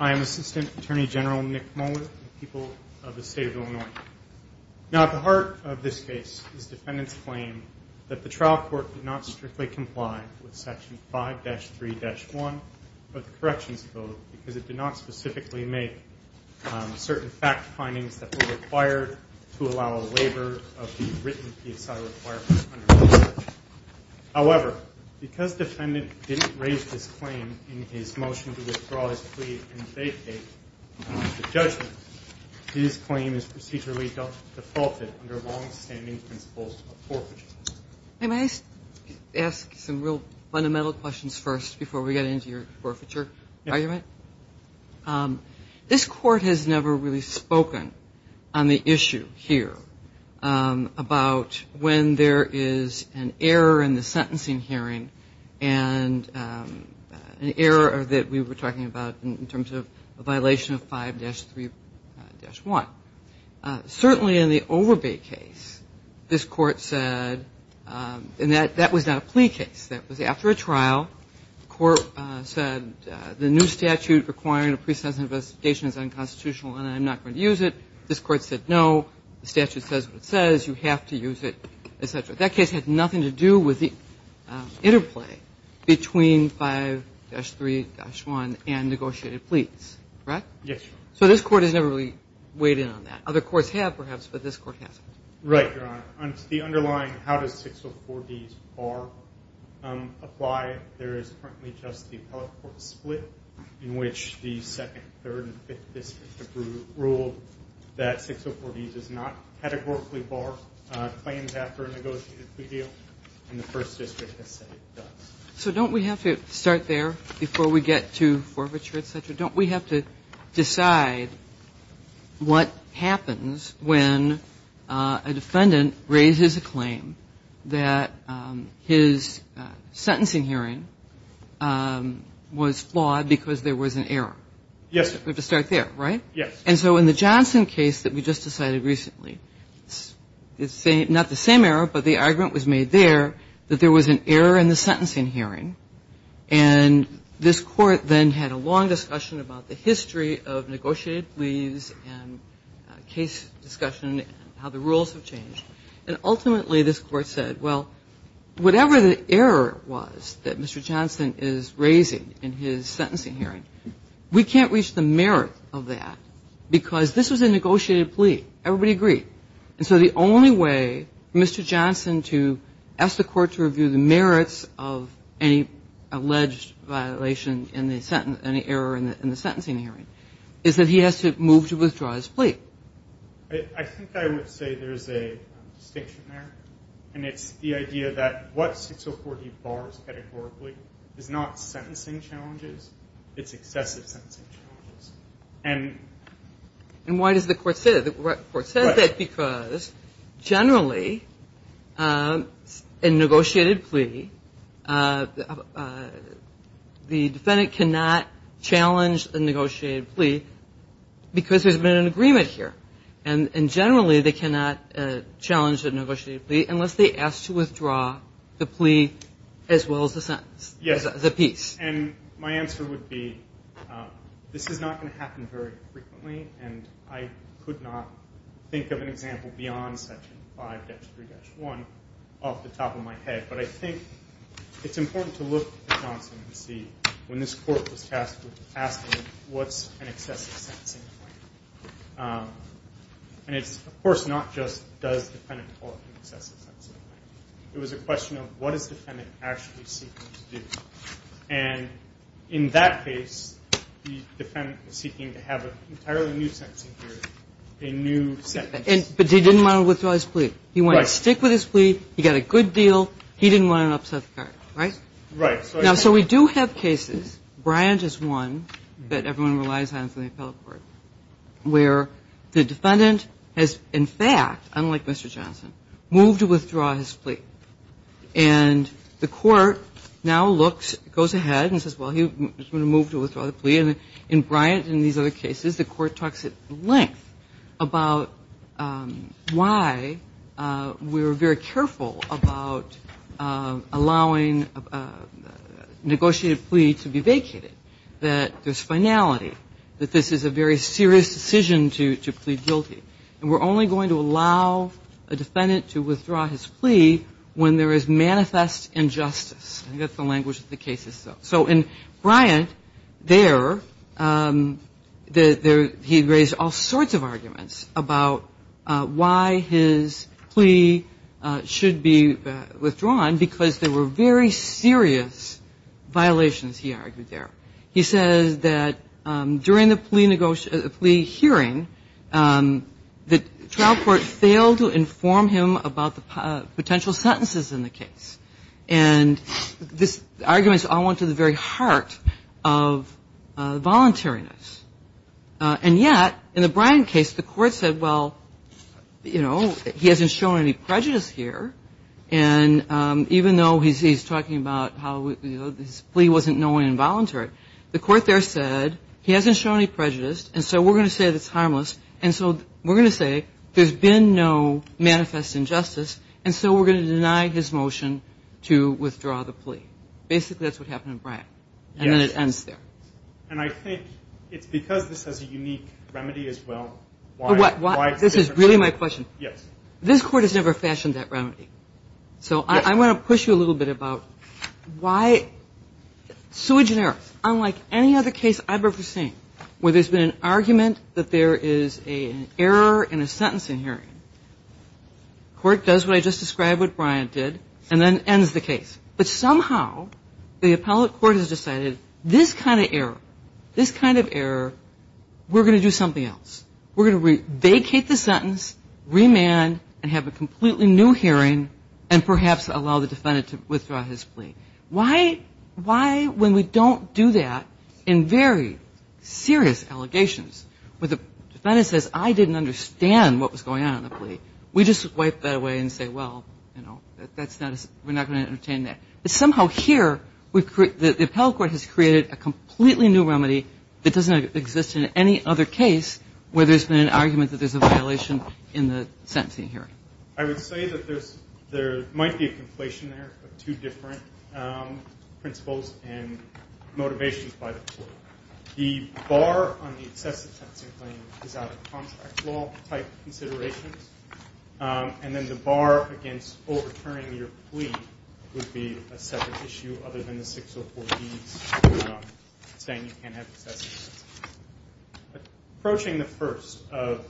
I am Assistant Attorney General Nick Moeller of the people of the state of Illinois. Now the heart of this case is defendant's claim that the trial court did not strictly comply with section 5-3-1 of the Corrections Code because it did not specifically make certain fact findings that were required to allow a waiver of the written PSI requirement. However, because defendant didn't raise this claim in his motion to withdraw his plea and vacate the judgment, his claim is procedurally defaulted under long-standing principles of forfeiture. Sophanavong May I ask some real fundamental questions first before we get into your forfeiture argument? This Court has never really spoken on the issue here about when there is an error in the sentencing hearing and an error that we were talking about in terms of a violation of 5-3-1. Certainly in the Overbay case, this Court said, and that was not a plea case. That was after a trial. The Court said the new statute requiring a pre-sentence investigation is unconstitutional and I am not going to use it. This Court said no. The statute says you have to use it, et cetera. That case had nothing to do with the interplay between 5-3-1 and negotiated pleas, correct? Yes, Your Honor. So this Court has never really weighed in on that. Other courts have, perhaps, but this Court hasn't. Right, Your Honor. On the underlying how does 604Ds bar apply, there is currently just the appellate court split in which the second, third, and fifth districts have ruled that 604Ds does not categorically bar claims after a negotiated plea deal. And the First District has said it does. So don't we have to start there before we get to forfeiture, et cetera? Don't we have to decide what happens when a defendant raises a claim that his sentencing hearing was flawed because there was an error? Yes, Your Honor. We have to start there, right? Yes. And so in the Johnson case that we just decided recently, it's not the same error, but the argument was made there that there was an error in the sentencing hearing. And this Court then had a long discussion about the history of negotiated pleas and case discussion and how the rules have changed. And ultimately, this Court said, well, whatever the error was that Mr. Johnson is raising in his sentencing hearing, we can't reach the merit of that because this was a negotiated plea. Everybody agreed. And so the only way Mr. Johnson to ask the Court to review the merits of any alleged violation in the sentence and the error in the sentencing hearing is that he has to move to withdraw his plea. I think I would say there is a distinction there, and it's the idea that what 604D bars categorically is not sentencing challenges. It's excessive sentencing challenges. And why does the Court say that? The Court said that because generally, in a negotiated plea, the defendant cannot challenge a negotiated plea because there's been an agreement here. And generally, they cannot challenge a negotiated plea unless they ask to withdraw the plea as well as the sentence, the piece. And my answer would be this is not going to happen very frequently, and I could not think of an example beyond Section 5-3-1 off the top of my head. But I think it's important to look at Johnson and see when this Court was tasked with asking what's an excessive sentencing claim. And it's, of course, not just does the defendant want an excessive sentencing claim. It was a question of what is the defendant actually seeking to do. And in that case, the defendant is seeking to have an entirely new sentencing hearing, a new sentence. But he didn't want to withdraw his plea. He wanted to stick with his plea. He got a good deal. He didn't want to upset the Court, right? Right. Now, so we do have cases, Bryant is one that everyone relies on from the appellate court, where the defendant has, in fact, unlike Mr. Johnson, moved to withdraw his plea. And the Court now looks, goes ahead and says, well, he's going to move to withdraw the plea. And in Bryant and these other cases, the Court talks at length about why we were very careful about allowing a negotiated plea to be vacated, that there's finality, that this is a very serious decision to plead guilty. And we're only going to allow a defendant to withdraw his plea when there is manifest injustice. I think that's the language of the cases, though. So in Bryant, there, he raised all sorts of arguments about why his plea should be withdrawn because there were very serious violations, he argued there. He says that during the plea hearing, the trial court failed to inform him about the potential sentences in the case. And these arguments all went to the very heart of voluntariness. And yet, in the Bryant case, the Court said, well, you know, he hasn't shown any prejudice here, and even though he's talking about how his plea wasn't knowing involuntary punishment, the Court there said, he hasn't shown any prejudice, and so we're going to say that it's harmless, and so we're going to say there's been no manifest injustice, and so we're going to deny his motion to withdraw the plea. Basically, that's what happened in Bryant. And then it ends there. And I think it's because this has a unique remedy, as well, why it's different. This is really my question. This Court has never fashioned that remedy. Unlike any other case I've ever seen, where there's been an argument that there is an error in a sentencing hearing, the Court does what I just described what Bryant did, and then ends the case. But somehow, the appellate court has decided, this kind of error, this kind of error, we're going to do something else. We're going to vacate the sentence, remand, and have a completely new hearing, and perhaps allow the defendant to withdraw his plea. Why, when we don't do that in very serious allegations, where the defendant says, I didn't understand what was going on in the plea, we just wipe that away and say, well, we're not going to entertain that. But somehow here, the appellate court has created a completely new remedy that doesn't exist in any other case where there's been an argument that there's a violation in the sentencing hearing. I would say that there might be a conflation there of two different principles and motivations by the Court. The bar on the excessive sentencing claim is out of contract law type considerations. And then the bar against overturning your plea would be a separate issue other than the 604B's saying you can't have excessive sentencing. Approaching the first of,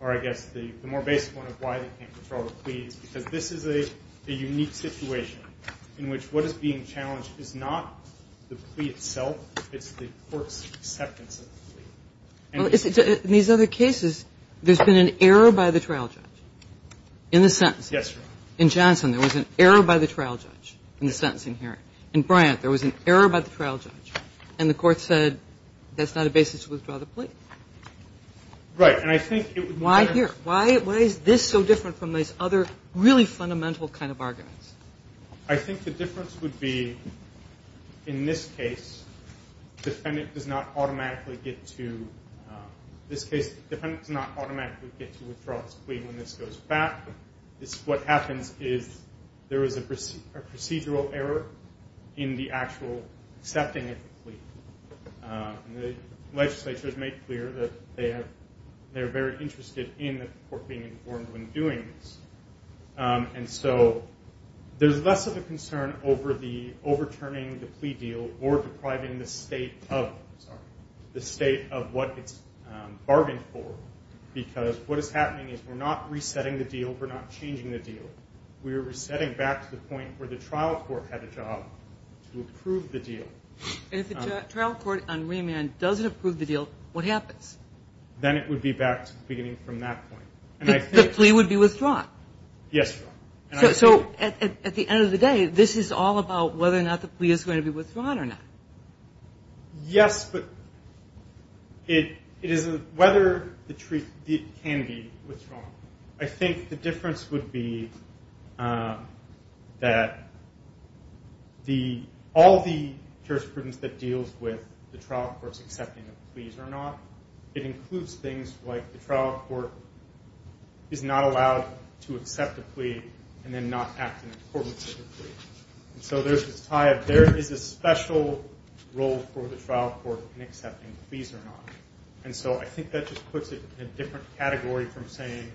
or I guess the more basic one of why they can't withdraw the plea is because this is a unique situation in which what is being challenged is not the plea itself, it's the court's acceptance of the plea. And in these other cases, there's been an error by the trial judge in the sentencing. Yes, Your Honor. In Johnson, there was an error by the trial judge in the sentencing hearing. In Bryant, there was an error by the trial judge, and the court said that's not a basis to withdraw the plea. Right, and I think it would be... Why here? Why is this so different from these other really fundamental kind of arguments? I think the difference would be in this case, the defendant does not automatically get to withdraw his plea when this goes back. What happens is there is a procedural error in the actual accepting of the plea. The legislature has made clear that they're very interested in the court being informed when doing this. And so there's less of a concern over the overturning the plea deal or depriving the state of what it's bargained for. Because what is happening is we're not resetting the deal, we're not changing the deal. We're resetting back to the point where the trial court had a job to approve the deal. And if the trial court on remand doesn't approve the deal, what happens? Then it would be back to the beginning from that point. The plea would be withdrawn? Yes, Your Honor. So at the end of the day, this is all about whether or not the plea is going to be withdrawn or not? Yes, but it isn't whether the plea can be withdrawn. I think the difference would be that all the jurors in this case, there is prudence that deals with the trial court's accepting of the pleas or not. It includes things like the trial court is not allowed to accept a plea and then not act in accordance with the plea. So there is a special role for the trial court in accepting pleas or not. And so I think that just puts it in a different category from saying,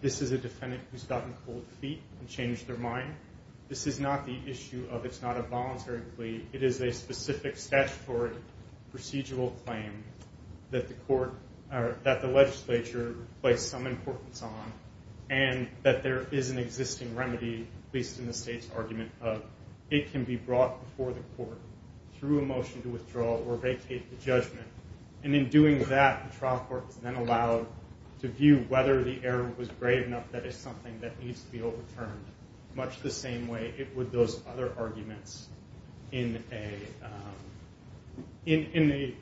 this is a defendant who has gotten cold feet and changed their mind. This is not the issue of it's not a voluntary plea. It is a specific statutory procedural claim that the legislature placed some importance on. And that there is an existing remedy, at least in the state's argument, of it can be brought before the court through a motion to withdraw or vacate the judgment. And in doing that, the trial court is then allowed to view whether the error was grave enough that it's something that needs to be overturned much the same way it would those other arguments in a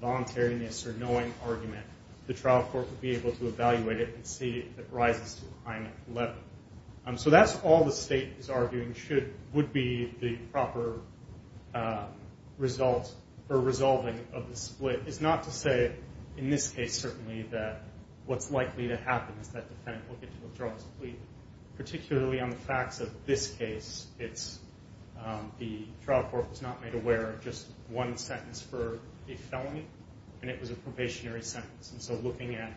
voluntariness or knowing argument. The trial court would be able to evaluate it and see if it rises to the crime of 11. So that's all the state is arguing would be the proper resolving of the split. It's not to say, in this case certainly, that what's likely to happen is that the defendant will get to withdraw his plea, particularly on the facts of this case. The trial court was not made aware of just one sentence for a felony, and it was a probationary sentence. Why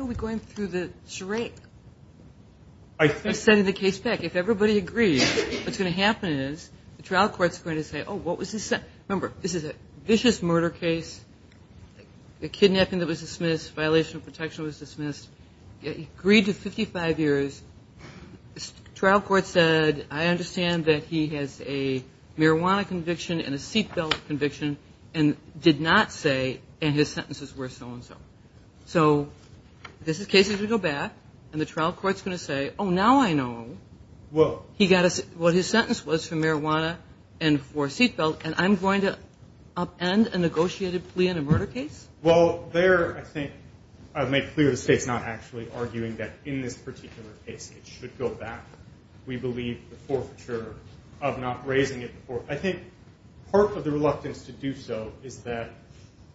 are we going through the charade of sending the case back? If everybody agrees, what's going to happen is the trial court is going to say, remember, this is a vicious murder case, a kidnapping that was dismissed, violation of protection was dismissed, agreed to 55 years. Trial court said, I understand that he has a marijuana conviction and a seat belt conviction and did not say, and his sentences were so-and-so. So this is cases we go back, and the trial court's going to say, oh, now I know what his sentence was for marijuana and for seat belt, and I'm going to upend a negotiated plea in a murder case? Well, there I think I've made clear the state's not actually arguing that in this particular case it should go back. I think part of the reluctance to do so is that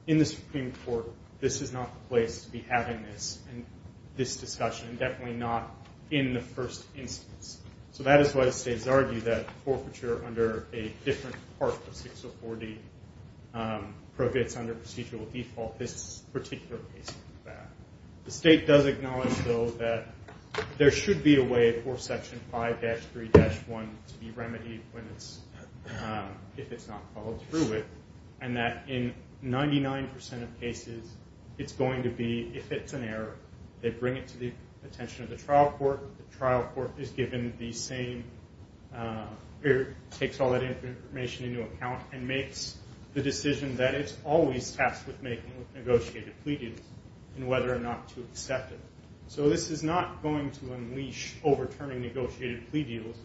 in the Supreme Court, this is not the place to be having this discussion, and definitely not in the first instance. So that is why the states argue that forfeiture under a different part of 604D prohibits under procedural default this particular case. The state does acknowledge, though, that there should be a way for Section 5-3-1 to be remedied if it's not followed through with, and that in 99% of cases it's going to be, if it's an error, they bring it to the attention of the trial court. The trial court takes all that information into account and makes the decision that it's always tasked with making with negotiated plea deals and whether or not to accept it. So this is not going to unleash overturning negotiated plea deals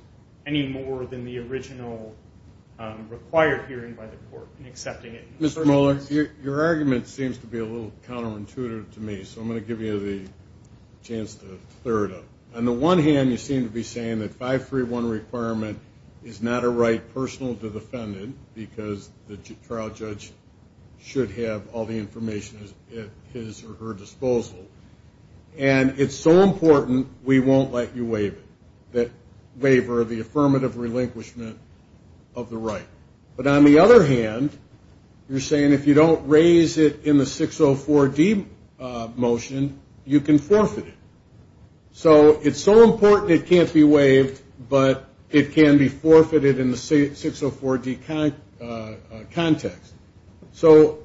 any more than the original required hearing by the court in accepting it. Mr. Mohler, your argument seems to be a little counterintuitive to me, so I'm going to give you the chance to clear it up. On the one hand, you seem to be saying that 5-3-1 requirement is not a right personal to the defendant because the trial judge should have all the information at his or her disposal, and it's so important we won't let you waive it, the affirmative relinquishment of the right. But on the other hand, you're saying if you don't raise it in the 604-D motion, you can forfeit it. So it's so important it can't be waived, but it can be forfeited in the 604-D context. So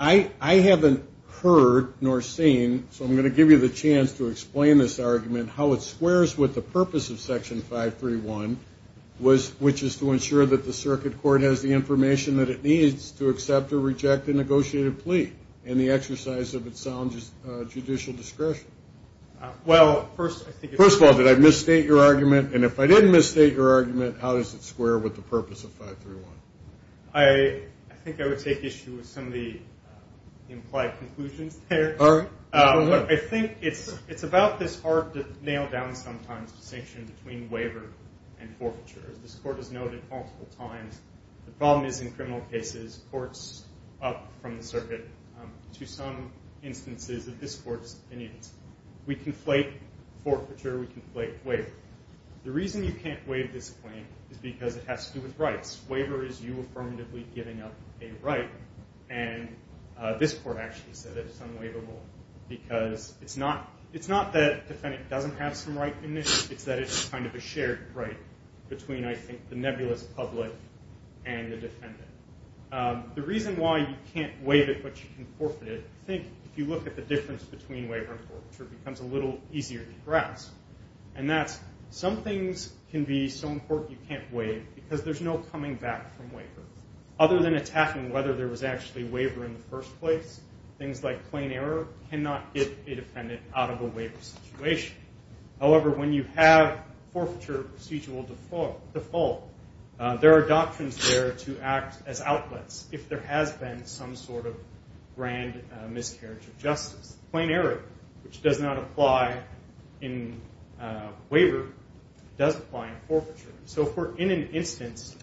I haven't heard nor seen, so I'm going to give you the chance to explain this argument, how it squares with the purpose of Section 5-3-1, which is to ensure that the circuit court has the information that it needs to accept or reject a negotiated plea in the exercise of its sound judicial discretion. First of all, did I misstate your argument? And if I didn't misstate your argument, how does it square with the purpose of 5-3-1? I think I would take issue with some of the implied conclusions there. I think it's about this hard-to-nail-down-sometimes distinction between waiver and forfeiture. As this Court has noted multiple times, the problem is in criminal cases, courts up from the circuit to some instances that this Court's opinions. We conflate forfeiture, we conflate waiver. The reason you can't waive this claim is because it has to do with rights. Waiver is you affirmatively giving up a right, and this Court actually said it's unwaivable, because it's not that the defendant doesn't have some right in this, it's that it's kind of a shared right between, I think, the nebulous public and the defendant. The reason why you can't waive it but you can forfeit it, I think if you look at the difference between waiver and forfeiture, it becomes a little easier to grasp. And that's some things can be so important you can't waive because there's no coming back from waiver. Other than attacking whether there was actually waiver in the first place, things like plain error cannot get a defendant out of a waiver situation. However, when you have forfeiture procedural default, there are doctrines there to act as outlets if there has been some sort of grand miscarriage of justice. Plain error, which does not apply in waiver, does apply in forfeiture. So if we're in an instance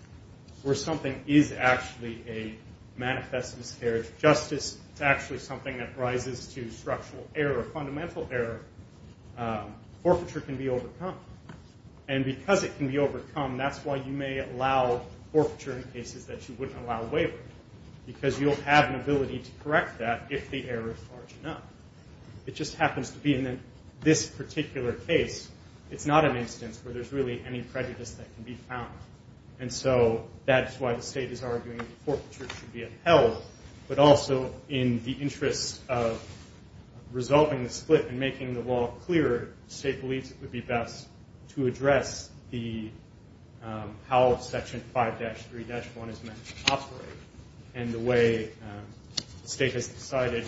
where something is actually a manifest miscarriage of justice, it's actually something that rises to structural error, fundamental error, forfeiture can be overcome. And because it can be overcome, that's why you may allow forfeiture in cases that you wouldn't allow waiver. Because you'll have an ability to correct that if the error is large enough. It just happens to be in this particular case. It's not an instance where there's really any prejudice that can be found. And so that's why the state is arguing that forfeiture should be upheld. But also in the interest of resolving the split and making the law clearer, the state believes it would be best to address how Section 5-3-1 is meant to operate. And the way the state has decided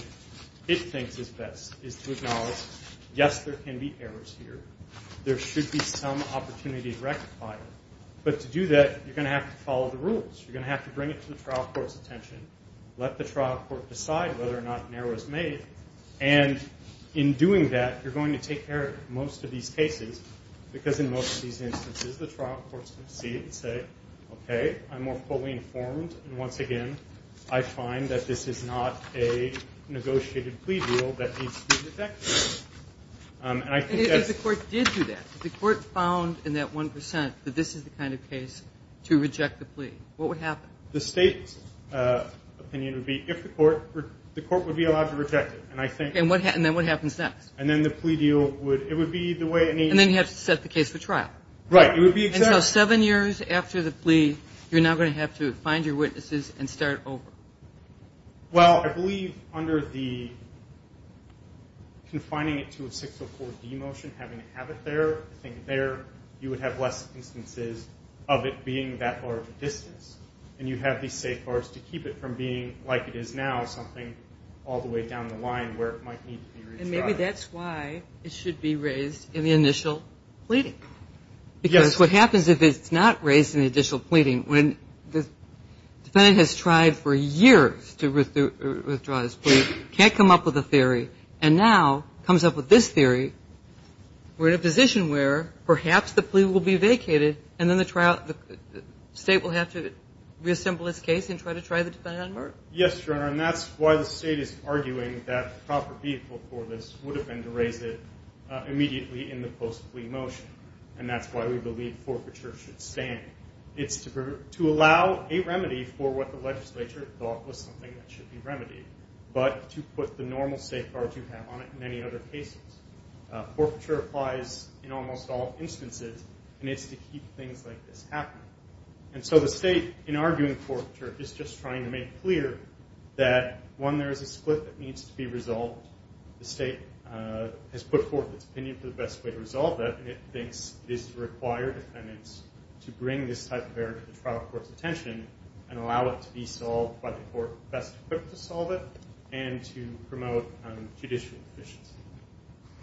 it thinks is best is to acknowledge, yes, there can be errors here. There should be some opportunity to rectify it. But to do that, you're going to have to follow the rules. You're going to have to bring it to the trial court's attention, let the trial court decide whether or not an error is made. And in doing that, you're going to take care of most of these cases, because in most of these instances, the trial court's going to see it and say, okay, I'm more fully informed. And once again, I find that this is not a negotiated plea deal that needs to be rejected. And I think that's... And if the court did do that, if the court found in that 1% that this is the kind of case to reject the plea, what would happen? The state's opinion would be if the court...the court would be allowed to reject it. And I think... And then what happens next? And then the plea deal would...it would be the way... And then you have to set the case for trial. Right. It would be exactly... And so seven years after the plea, you're now going to have to find your witnesses and start over. Well, I believe under the confining it to a 604-D motion, having to have it there, I think there you would have less instances of it being that large a distance. And you have these safeguards to keep it from being like it is now, something all the way down the line where it might need to be... And maybe that's why it should be raised in the initial pleading. Yes. Because what happens if it's not raised in the initial pleading when the defendant has tried for years to withdraw his plea, can't come up with a theory, and now comes up with this theory, we're in a position where perhaps the plea will be vacated and then the state will have to reassemble its case and try to try the defendant on murder? Yes, Your Honor. And that's why the state is arguing that the proper vehicle for this would have been to raise it immediately in the post-plea motion. And that's why we believe forfeiture should stand. It's to allow a remedy for what the legislature thought was something that should be remedied, but to put the normal safeguards you have on it in many other cases. Forfeiture applies in almost all instances, and it's to keep things like this happening. And so the state, in arguing forfeiture, is just trying to make clear that, one, there is a split that needs to be resolved. The state has put forth its opinion for the best way to resolve that, and it thinks it is required of defendants to bring this type of error to the trial court's attention and allow it to be solved by the court best equipped to solve it and to promote judicial efficiency.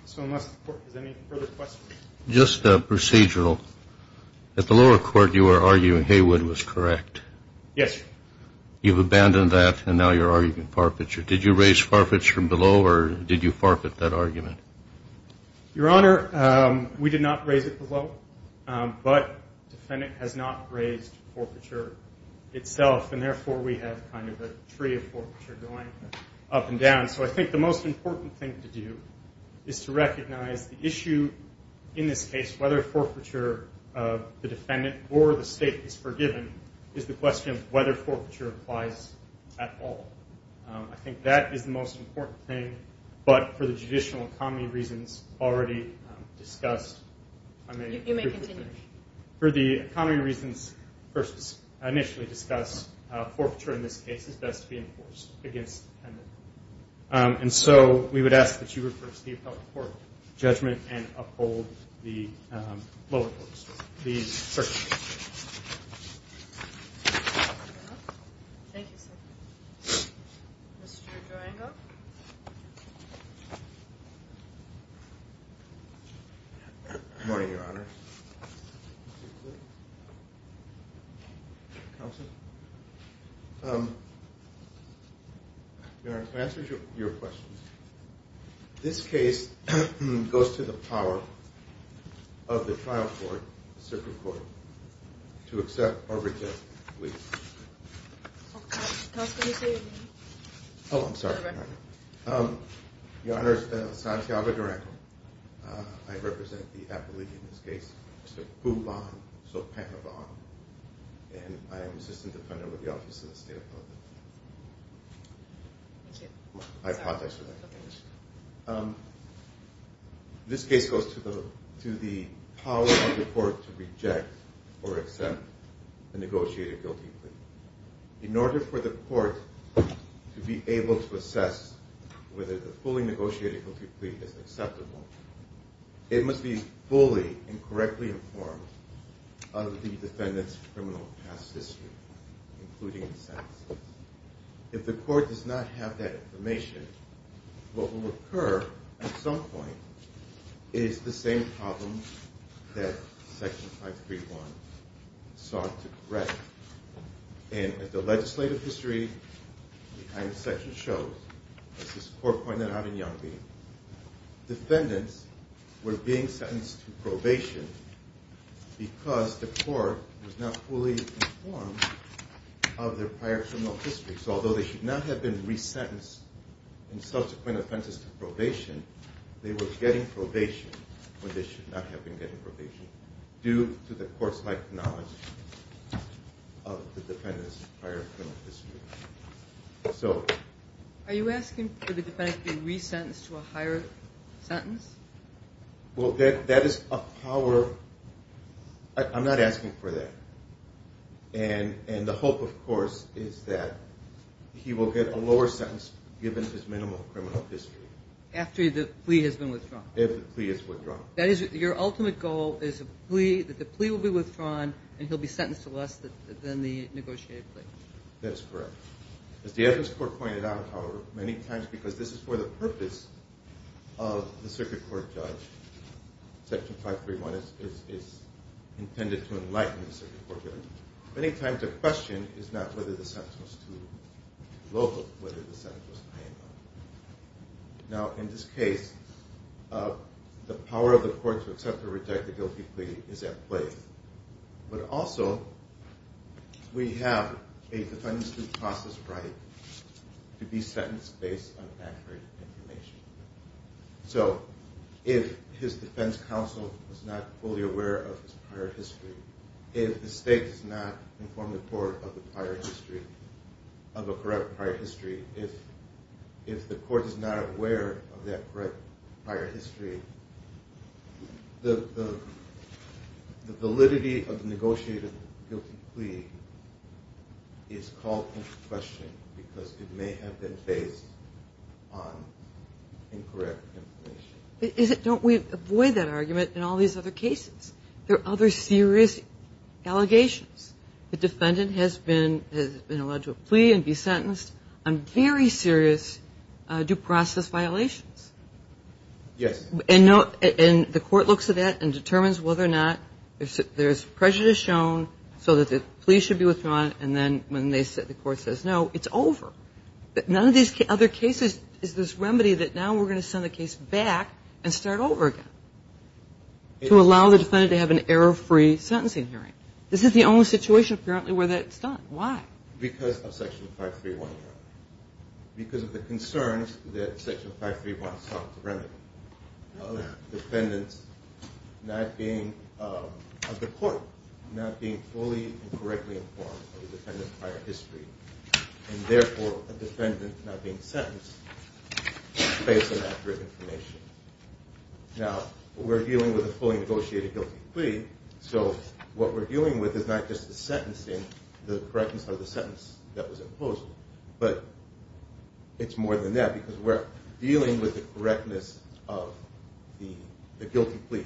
So unless the court has any further questions. Just procedural. At the lower court, you were arguing Haywood was correct. Yes, Your Honor. You've abandoned that, and now you're arguing forfeiture. Did you raise forfeiture below, or did you forfeit that argument? Your Honor, we did not raise it below, but the defendant has not raised forfeiture itself, and therefore we have kind of a tree of forfeiture going up and down. So I think the most important thing to do is to recognize the issue in this case, whether forfeiture of the defendant or the state is forgiven, is the question of whether forfeiture applies at all. I think that is the most important thing, but for the judicial economy reasons already discussed. You may continue. For the economy reasons initially discussed, forfeiture in this case is best to be enforced against the defendant. And so we would ask that you refer Steve to the court for judgment and uphold the lower court's decision. Thank you, sir. Mr. Durango? Good morning, Your Honor. Counsel? Your Honor, to answer your question, this case goes to the power of the trial court, the circuit court, to accept or reject the plea. Counsel, can you say your name? Oh, I'm sorry. Mr. Durango. Your Honor, Santiago Durango. I represent the appellee in this case, Mr. Phu Van Sokpanavong, and I am assistant defendant with the Office of the State Appellant. Thank you. I apologize for that. Okay. This case goes to the power of the court to reject or accept a negotiated guilty plea. In order for the court to be able to assess whether the fully negotiated guilty plea is acceptable, it must be fully and correctly informed of the defendant's criminal past history, including his sentences. If the court does not have that information, what will occur at some point is the same problem that Section 531 sought to correct. And as the legislative history behind the section shows, as this court pointed out in Youngby, defendants were being sentenced to probation because the court was not fully informed of their prior criminal history. So although they should not have been resentenced in subsequent offenses to probation, they were getting probation when they should not have been getting probation due to the court's lack of knowledge of the defendant's prior criminal history. Are you asking for the defendant to be resentenced to a higher sentence? Well, that is a power. I'm not asking for that. And the hope, of course, is that he will get a lower sentence given his minimal criminal history. After the plea has been withdrawn. If the plea is withdrawn. That is your ultimate goal is that the plea will be withdrawn and he'll be sentenced to less than the negotiated plea. That is correct. As the evidence court pointed out, however, many times because this is for the purpose of the circuit court judge, Section 531 is intended to enlighten the circuit court judge. Many times the question is not whether the sentence was too low, but whether the sentence was too high or not. Now, in this case, the power of the court to accept or reject the guilty plea is at play. But also, we have a defendant's due process right to be sentenced based on accurate information. So, if his defense counsel is not fully aware of his prior history, if the state does not inform the court of the prior history, of a correct prior history, if the court is not aware of that correct prior history, the validity of the negotiated guilty plea is called into question because it may have been based on incorrect information. Don't we avoid that argument in all these other cases? There are other serious allegations. The defendant has been allowed to plea and be sentenced on very serious due process violations. Yes. And the court looks at that and determines whether or not there's prejudice shown, so that the plea should be withdrawn, and then when the court says no, it's over. None of these other cases is this remedy that now we're going to send the case back and start over again to allow the defendant to have an error-free sentencing hearing. This is the only situation, apparently, where that's done. Why? Because of Section 531. Because of the concerns that Section 531 sought to remedy. The court not being fully and correctly informed of the defendant's prior history, and therefore a defendant not being sentenced based on accurate information. Now, we're dealing with a fully negotiated guilty plea, so what we're dealing with is not just the correctness of the sentence that was imposed, but it's more than that because we're dealing with the correctness of the guilty plea.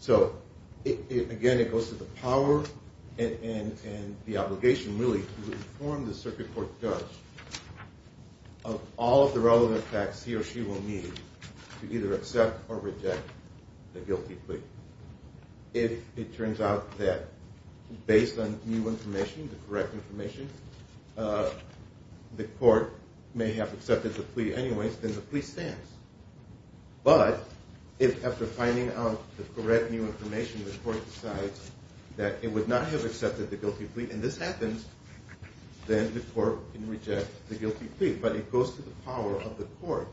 So, again, it goes to the power and the obligation, really, to inform the circuit court judge of all of the relevant facts he or she will need to either accept or reject the guilty plea. If it turns out that, based on new information, the correct information, the court may have accepted the plea anyways, then the plea stands. But if, after finding out the correct new information, the court decides that it would not have accepted the guilty plea, and this happens, then the court can reject the guilty plea. But it goes to the power of the court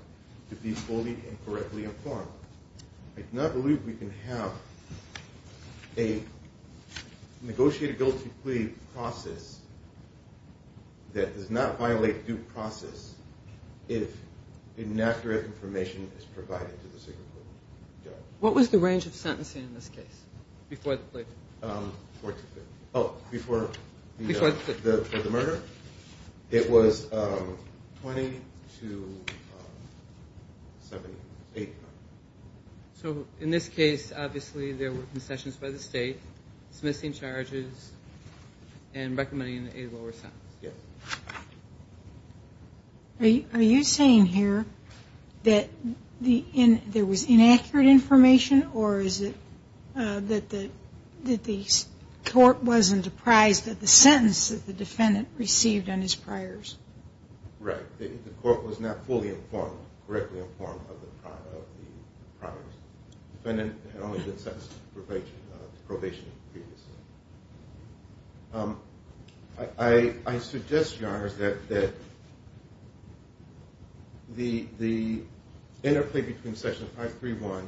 to be fully and correctly informed. I do not believe we can have a negotiated guilty plea process that does not violate due process if inaccurate information is provided to the circuit court judge. What was the range of sentencing in this case, before the plea? Oh, before the murder? It was 20 to 78. So, in this case, obviously, there were concessions by the state, dismissing charges, and recommending a lower sentence. Yes. Are you saying here that there was inaccurate information, or is it that the court wasn't apprised of the sentence that the defendant received on his priors? Right. The court was not fully informed, correctly informed, of the priors. The defendant had only been sentenced to probation previously. I suggest, Your Honors, that the interplea between Section 531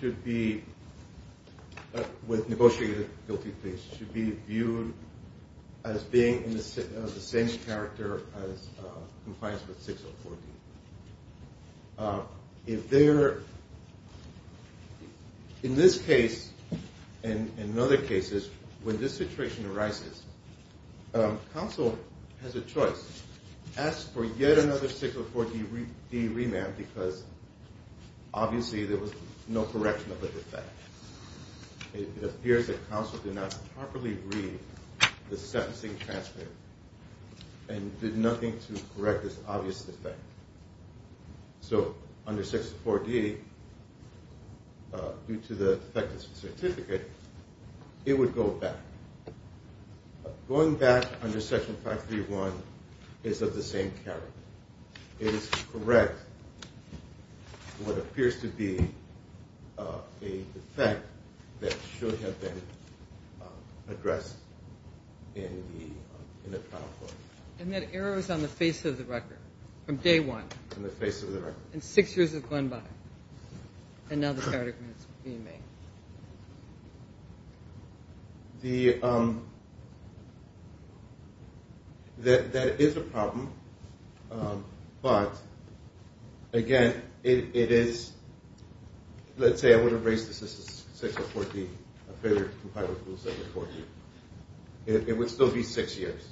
should be, with negotiated guilty pleas, should be viewed as being of the same character as compliance with 604D. If there, in this case, and in other cases, when this situation arises, counsel has a choice. Ask for yet another 604D remand because, obviously, there was no correction of the defect. It appears that counsel did not properly read the sentencing transcript and did nothing to correct this obvious defect. So, under 604D, due to the defective certificate, it would go back. Going back under Section 531 is of the same character. It is correct what appears to be a defect that should have been addressed in the trial court. And that error is on the face of the record, from day one. On the face of the record. And six years have gone by, and now the verdict is being made. That is a problem. But, again, it is, let's say I would have raised this as 604D, a failure to comply with Rule 604D, it would still be six years.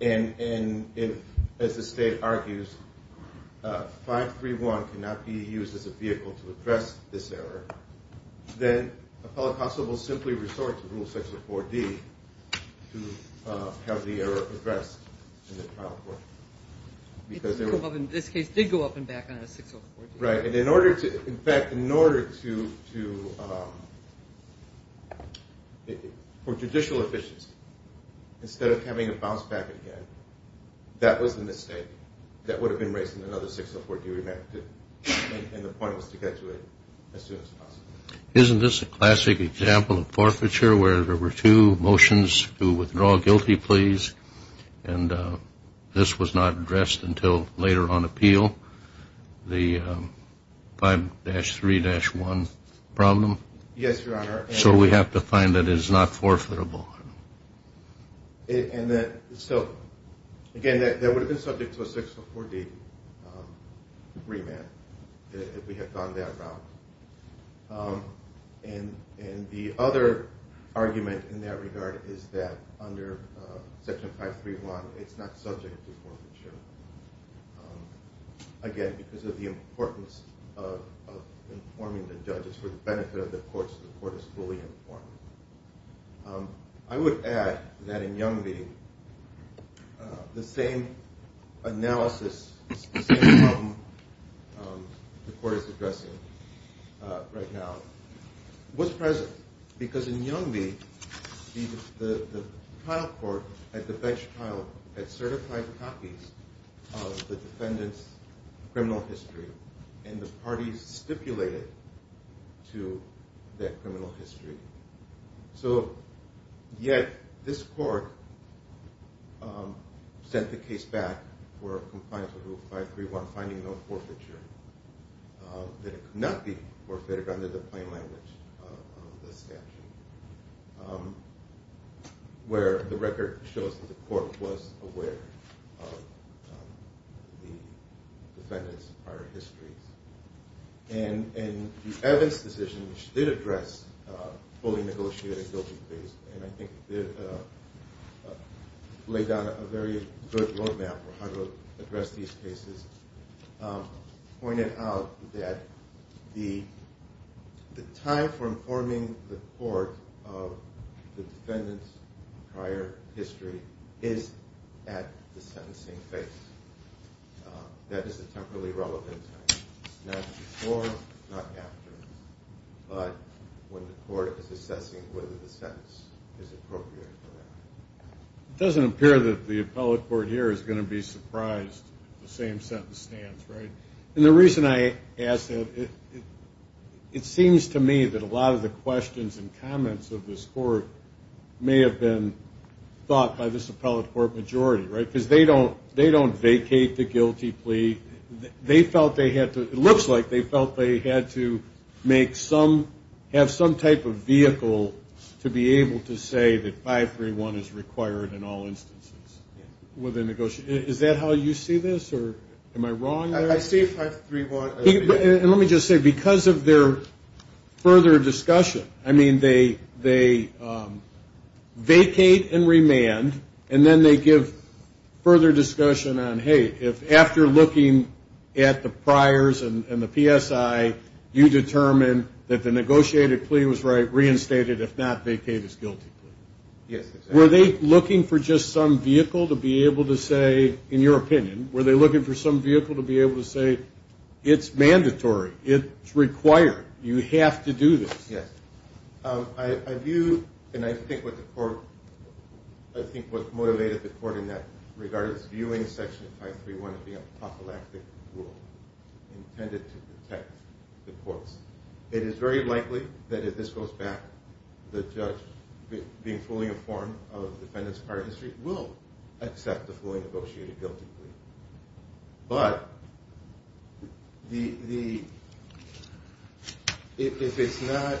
And if, as the State argues, 531 cannot be used as a vehicle to address this error, then a fellow constable will simply resort to Rule 604D to have the error addressed in the trial court. It did go up and back on a 604D. Right. And in fact, in order to, for judicial efficiency, instead of having it bounce back again, that was the mistake that would have been raised in another 604D remand. And the point was to get to it as soon as possible. Isn't this a classic example of forfeiture, where there were two motions to withdraw guilty pleas, and this was not addressed until later on appeal, the 5-3-1 problem? Yes, Your Honor. So we have to find that it is not forfeitable. And so, again, that would have been subject to a 604D remand if we had gone that route. And the other argument in that regard is that under Section 531, it's not subject to forfeiture. Again, because of the importance of informing the judges for the benefit of the courts, the court is fully informed. I would add that in Young v. the same analysis, the same problem the court is addressing right now, was present. Because in Young v., the trial court at the bench trial had certified copies of the defendant's criminal history, and the parties stipulated to that criminal history. So yet this court sent the case back for compliance with Rule 531, finding no forfeiture, that it could not be forfeited under the plain language of the statute, where the record shows that the court was aware of the defendant's prior histories. And the Evans decision, which did address fully negotiated guilty pleas, and I think laid down a very good road map for how to address these cases, pointed out that the time for informing the court of the defendant's prior history is at the sentencing phase. That is a temporally relevant time. Not before, not after, but when the court is assessing whether the sentence is appropriate for that. It doesn't appear that the appellate court here is going to be surprised if the same sentence stands, right? And the reason I ask that, it seems to me that a lot of the questions and comments of this court may have been thought by this appellate court majority, right? Because they don't vacate the guilty plea. It looks like they felt they had to have some type of vehicle to be able to say that 531 is required in all instances. Is that how you see this, or am I wrong there? I see 531. And let me just say, because of their further discussion, I mean, they vacate and remand, and then they give further discussion on, hey, if after looking at the priors and the PSI, you determine that the negotiated plea was reinstated, if not vacate his guilty plea. Yes. Were they looking for just some vehicle to be able to say, in your opinion, were they looking for some vehicle to be able to say, it's mandatory, it's required, you have to do this? Yes. I view, and I think what the court, I think what motivated the court in that regard is viewing Section 531 as being an apocalyptic rule intended to protect the courts. It is very likely that if this goes back, the judge, being fully informed of the defendant's prior history, will accept the fully negotiated guilty plea. But if it's not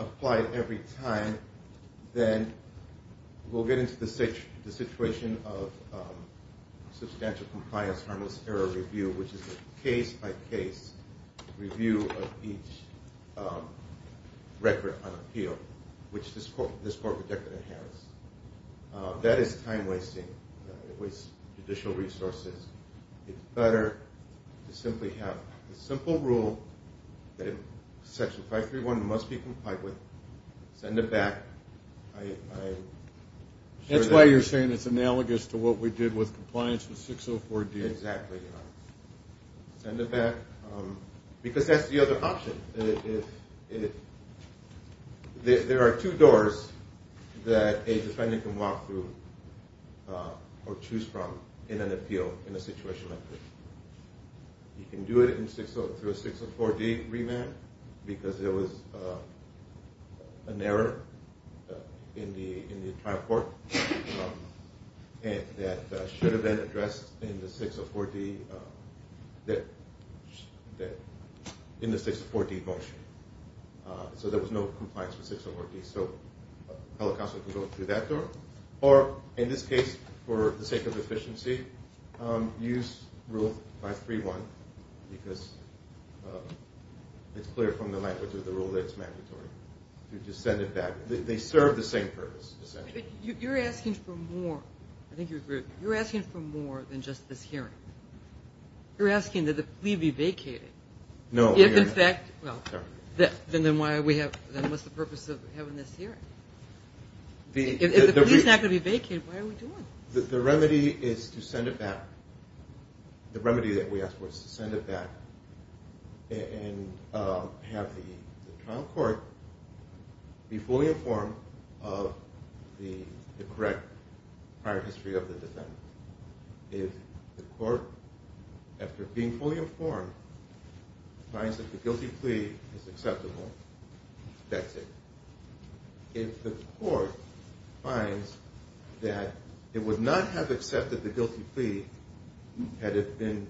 applied every time, then we'll get into the situation of substantial compliance, harmless error review, which is a case-by-case review of each record on appeal, which this court rejected in Harris. That is time-wasting. It wastes judicial resources. It's better to simply have a simple rule that Section 531 must be complied with, send it back. That's why you're saying it's analogous to what we did with compliance with 604-D. Exactly. Send it back. Because that's the other option. There are two doors that a defendant can walk through or choose from in an appeal in a situation like this. You can do it through a 604-D remand because there was an error in the trial court that should have been addressed in the 604-D motion. So there was no compliance with 604-D. So a public counsel can go through that door. Or, in this case, for the sake of efficiency, use Rule 531 because it's clear from the language of the rule that it's mandatory. You just send it back. They serve the same purpose, essentially. You're asking for more than just this hearing. You're asking that the plea be vacated. No. Then what's the purpose of having this hearing? If the plea is not going to be vacated, what are we doing? The remedy is to send it back. And have the trial court be fully informed of the correct prior history of the defendant. If the court, after being fully informed, finds that the guilty plea is acceptable, that's it. If the court finds that it would not have accepted the guilty plea had it been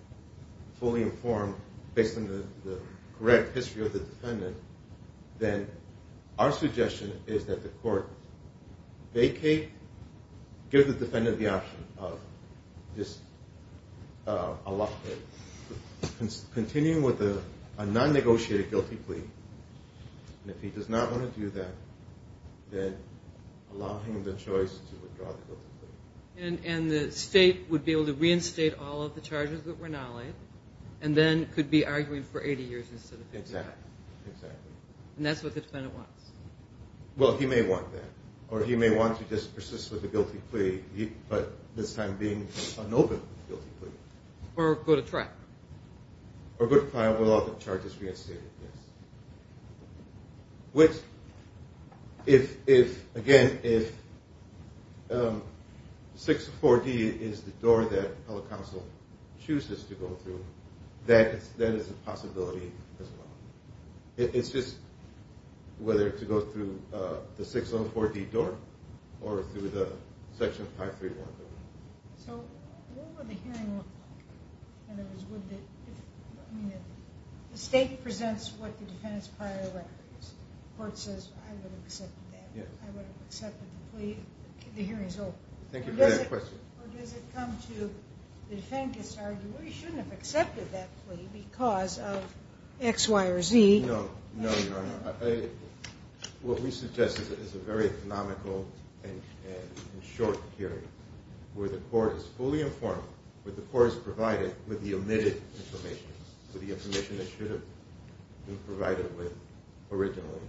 fully informed, based on the correct history of the defendant, then our suggestion is that the court vacate, give the defendant the option of just continuing with a non-negotiated guilty plea. And if he does not want to do that, then allow him the choice to withdraw the guilty plea. And the state would be able to reinstate all of the charges that were not laid and then could be arguing for 80 years instead of 55. Exactly. And that's what the defendant wants. Well, he may want that, or he may want to just persist with the guilty plea, but this time being unopened with the guilty plea. Or go to trial. Or go to trial with all of the charges reinstated, yes. Which, again, if 640 is the door that public counsel chooses to go through, that is a possibility as well. It's just whether to go through the 604-D door or through the Section 531 door. So what would the hearing look like? In other words, would the state presents what the defendant's prior record is. The court says, I would have accepted that. I would have accepted the plea. The hearing is over. Thank you for that question. Or does it come to the defendant gets to argue, well, you shouldn't have accepted that plea because of X, Y, or Z. No, Your Honor. What we suggest is a very economical and short hearing where the court is fully informed, where the court is provided with the omitted information, with the information that should have been provided with originally.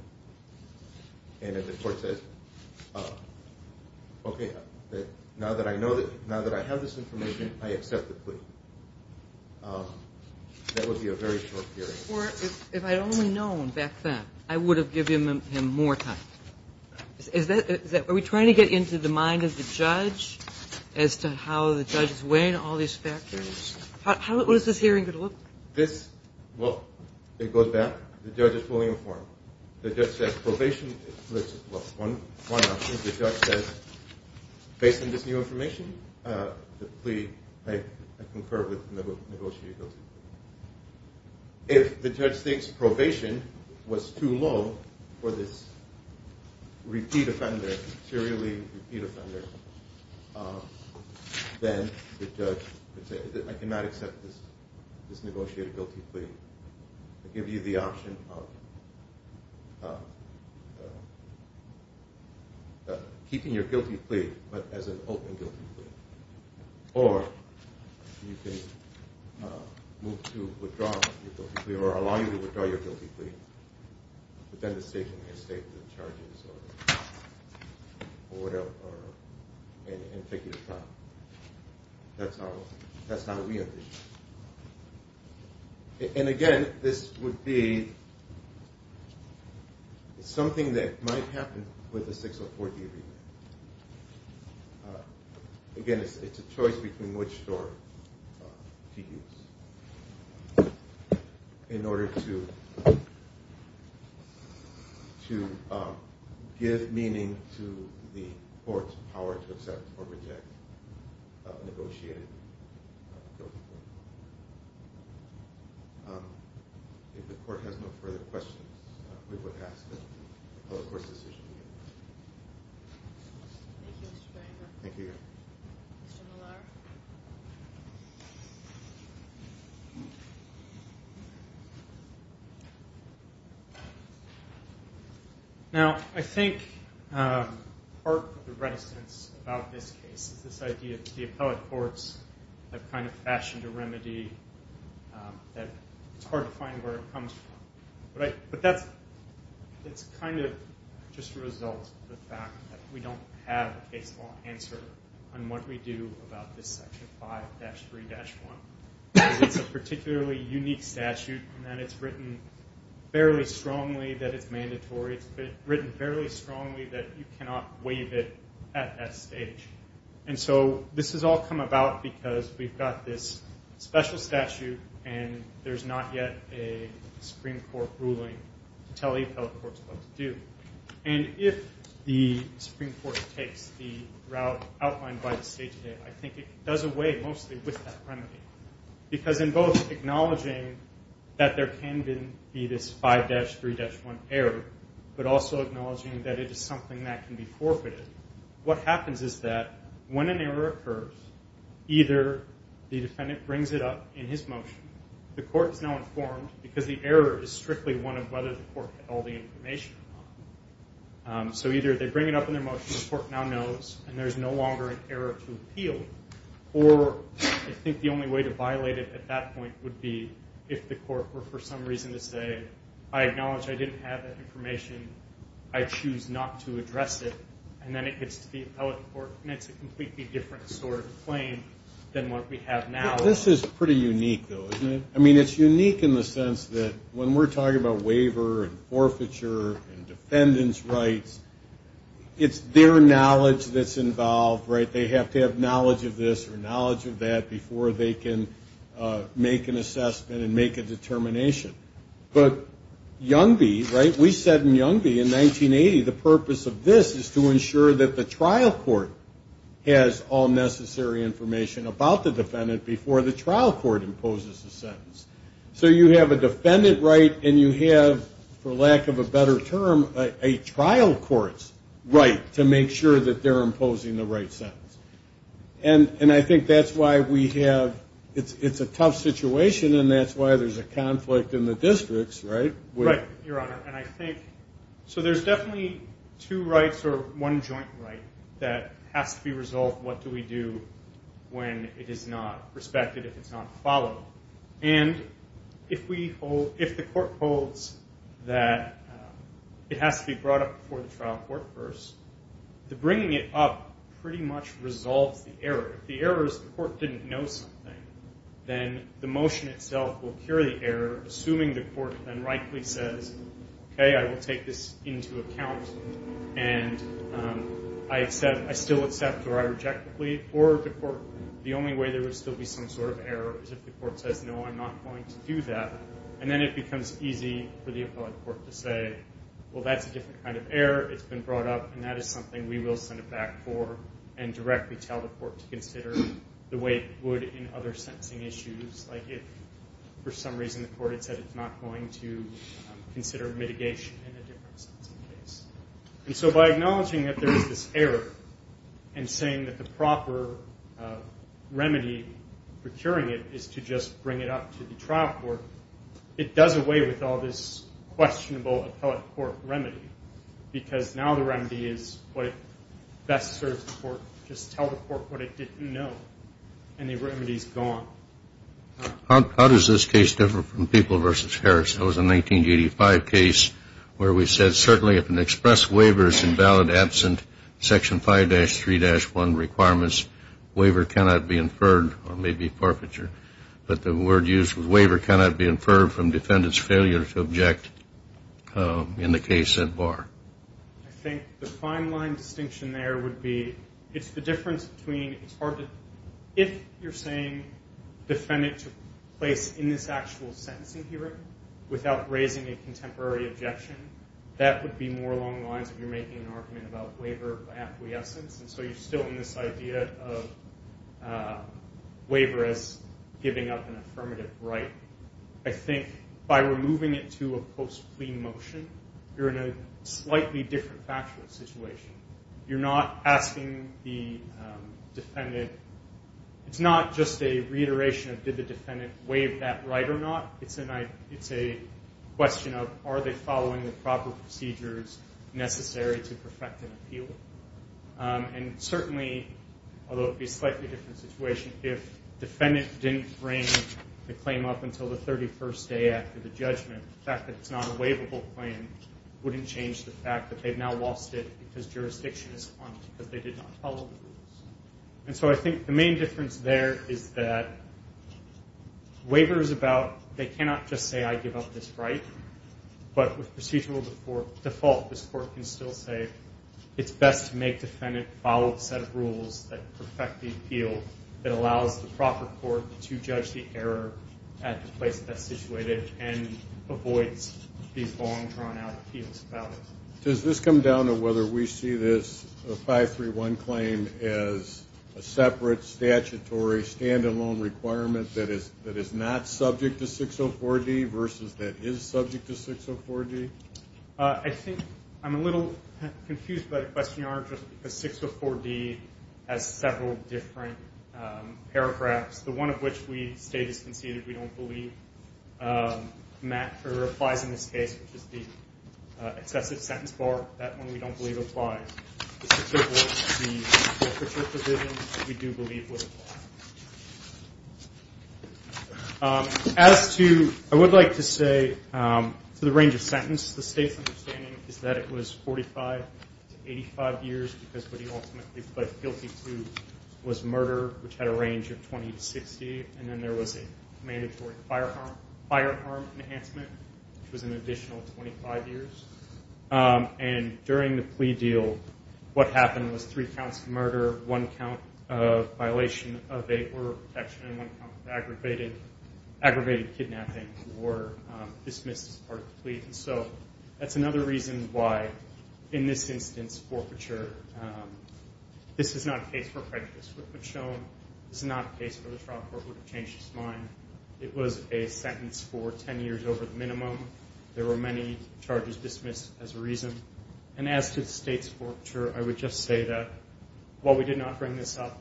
And if the court says, okay, now that I have this information, I accept the plea. That would be a very short hearing. If I had only known back then, I would have given him more time. Are we trying to get into the mind of the judge as to how the judge is weighing all these factors? How is this hearing going to look? Well, it goes back. The judge is fully informed. The judge says probation, well, one option. The judge says, based on this new information, the plea, I concur with negotiations. If the judge thinks probation was too low for this repeat offender, serially repeat offender, then the judge would say, I cannot accept this negotiated guilty plea. I give you the option of keeping your guilty plea, but as an open guilty plea. Or you can move to withdraw your guilty plea or allow you to withdraw your guilty plea, but then the state can reinstate the charges or whatever and take you to trial. That's not what we envision. And again, this would be something that might happen with a 604 D agreement. Again, it's a choice between which door to use in order to give meaning to the court's power to accept or reject a negotiated guilty plea. If the court has no further questions, we would ask that the public court's decision be made. Thank you, Mr. Franco. Thank you. Mr. Millar. Now, I think part of the reticence about this case is this idea that the appellate courts have kind of fashioned a remedy, that it's hard to find where it comes from. But that's kind of just a result of the fact that we don't have a case law answer on what we do about this Section 5-3-1. It's a particularly unique statute in that it's written fairly strongly that it's mandatory. It's written fairly strongly that you cannot waive it at that stage. And so this has all come about because we've got this special statute, and there's not yet a Supreme Court ruling to tell appellate courts what to do. And if the Supreme Court takes the route outlined by the State today, I think it does away mostly with that remedy. Because in both acknowledging that there can be this 5-3-1 error, but also acknowledging that it is something that can be forfeited, what happens is that when an error occurs, either the defendant brings it up in his motion, the court is now informed because the error is strictly one of whether the court had all the information or not. So either they bring it up in their motion, the court now knows, and there's no longer an error to appeal, or I think the only way to violate it at that point would be if the court were for some reason to say, I acknowledge I didn't have that information, I choose not to address it, and then it gets to the appellate court and it's a completely different sort of claim than what we have now. This is pretty unique, though, isn't it? I mean, it's unique in the sense that when we're talking about waiver and forfeiture and defendant's rights, it's their knowledge that's involved, right? They have to have knowledge of this or knowledge of that before they can make an assessment and make a determination. But Youngby, right, we said in Youngby in 1980 the purpose of this is to ensure that the trial court has all necessary information about the defendant before the trial court imposes the sentence. So you have a defendant right and you have, for lack of a better term, a trial court's right to make sure that they're imposing the right sentence. And I think that's why we have, it's a tough situation and that's why there's a conflict in the districts, right? Right, Your Honor, and I think, so there's definitely two rights or one joint right that has to be resolved. What do we do when it is not respected, if it's not followed? And if the court holds that it has to be brought up before the trial court first, the bringing it up pretty much resolves the error. If the error is the court didn't know something, then the motion itself will cure the error, assuming the court then rightly says, okay, I will take this into account and I still accept or I reject the plea, or the only way there would still be some sort of error is if the court says, no, I'm not going to do that. And then it becomes easy for the appellate court to say, well, that's a different kind of error. It's been brought up, and that is something we will send it back for and directly tell the court to consider the way it would in other sentencing issues, like if for some reason the court had said it's not going to consider mitigation in a different sentencing case. And so by acknowledging that there is this error and saying that the proper remedy for curing it is to just bring it up to the trial court, it does away with all this questionable appellate court remedy because now the remedy is what best serves the court. Just tell the court what it didn't know, and the remedy is gone. How does this case differ from People v. Harris? That was a 1985 case where we said certainly if an express waiver is invalid, absent Section 5-3-1 requirements, waiver cannot be inferred, or maybe forfeiture, but the word used was waiver cannot be inferred from defendant's failure to object in the case at bar. I think the fine line distinction there would be it's the difference between it's hard to, if you're saying defendant took place in this actual sentencing hearing without raising a contemporary objection, that would be more along the lines of you're making an argument about waiver of acquiescence, and so you're still in this idea of waiver as giving up an affirmative right. I think by removing it to a post-plea motion, you're in a slightly different factual situation. You're not asking the defendant. It's not just a reiteration of did the defendant waive that right or not. It's a question of are they following the proper procedures necessary to perfect an appeal, and certainly, although it would be a slightly different situation, if defendant didn't bring the claim up until the 31st day after the judgment, the fact that it's not a waivable claim wouldn't change the fact that they've now lost it because jurisdiction is gone, because they did not follow the rules, and so I think the main difference there is that waiver is about they cannot just say, I give up this right, but with procedural default, this court can still say it's best to make defendant follow a set of rules that perfect the appeal that allows the proper court to judge the error at the place that's situated and avoids these long, drawn-out appeals about it. Does this come down to whether we see this 531 claim as a separate statutory stand-alone requirement that is not subject to 604D versus that is subject to 604D? I think I'm a little confused by the question, Your Honor, just because 604D has several different paragraphs, the one of which we state is conceded we don't believe applies in this case, which is the excessive sentence bar. That one we don't believe applies. It's applicable to the literature provision that we do believe would apply. As to, I would like to say, to the range of sentence, the State's understanding is that it was 45 to 85 years because what he ultimately pled guilty to was murder, which had a range of 20 to 60, and then there was a mandatory firearm enhancement, which was an additional 25 years. And during the plea deal, what happened was three counts of murder, one count of violation of a order of protection, and one count of aggravated kidnapping were dismissed as part of the plea. And so that's another reason why, in this instance, forfeiture, this is not a case where prejudice would have been shown. This is not a case where the trial court would have changed its mind. It was a sentence for 10 years over the minimum. There were many charges dismissed as a reason. And as to the State's forfeiture, I would just say that, while we did not bring this up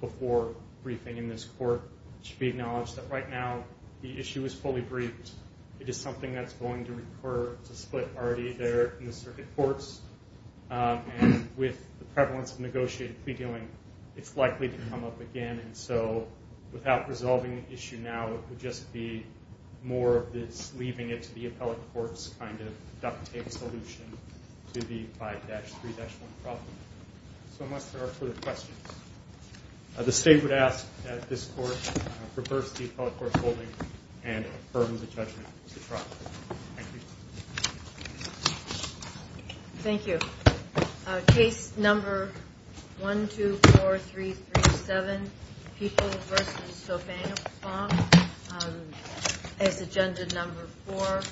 before briefing in this court, it should be acknowledged that right now the issue is fully briefed. It is something that's going to recur to split already there in the circuit courts. And with the prevalence of negotiated plea dealing, it's likely to come up again. And so without resolving the issue now, it would just be more of this leaving it to the appellate court's kind of duct tape solution to the 5-3-1 problem. So unless there are further questions, the State would ask that this court reverse the appellate court's holding and affirm the judgment to trial. Thank you. Thank you. Case number 124337, People v. Sobhangafong, as agenda number four,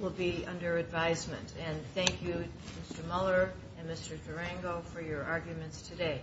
will be under advisement. And thank you, Mr. Mueller and Mr. Durango, for your arguments today.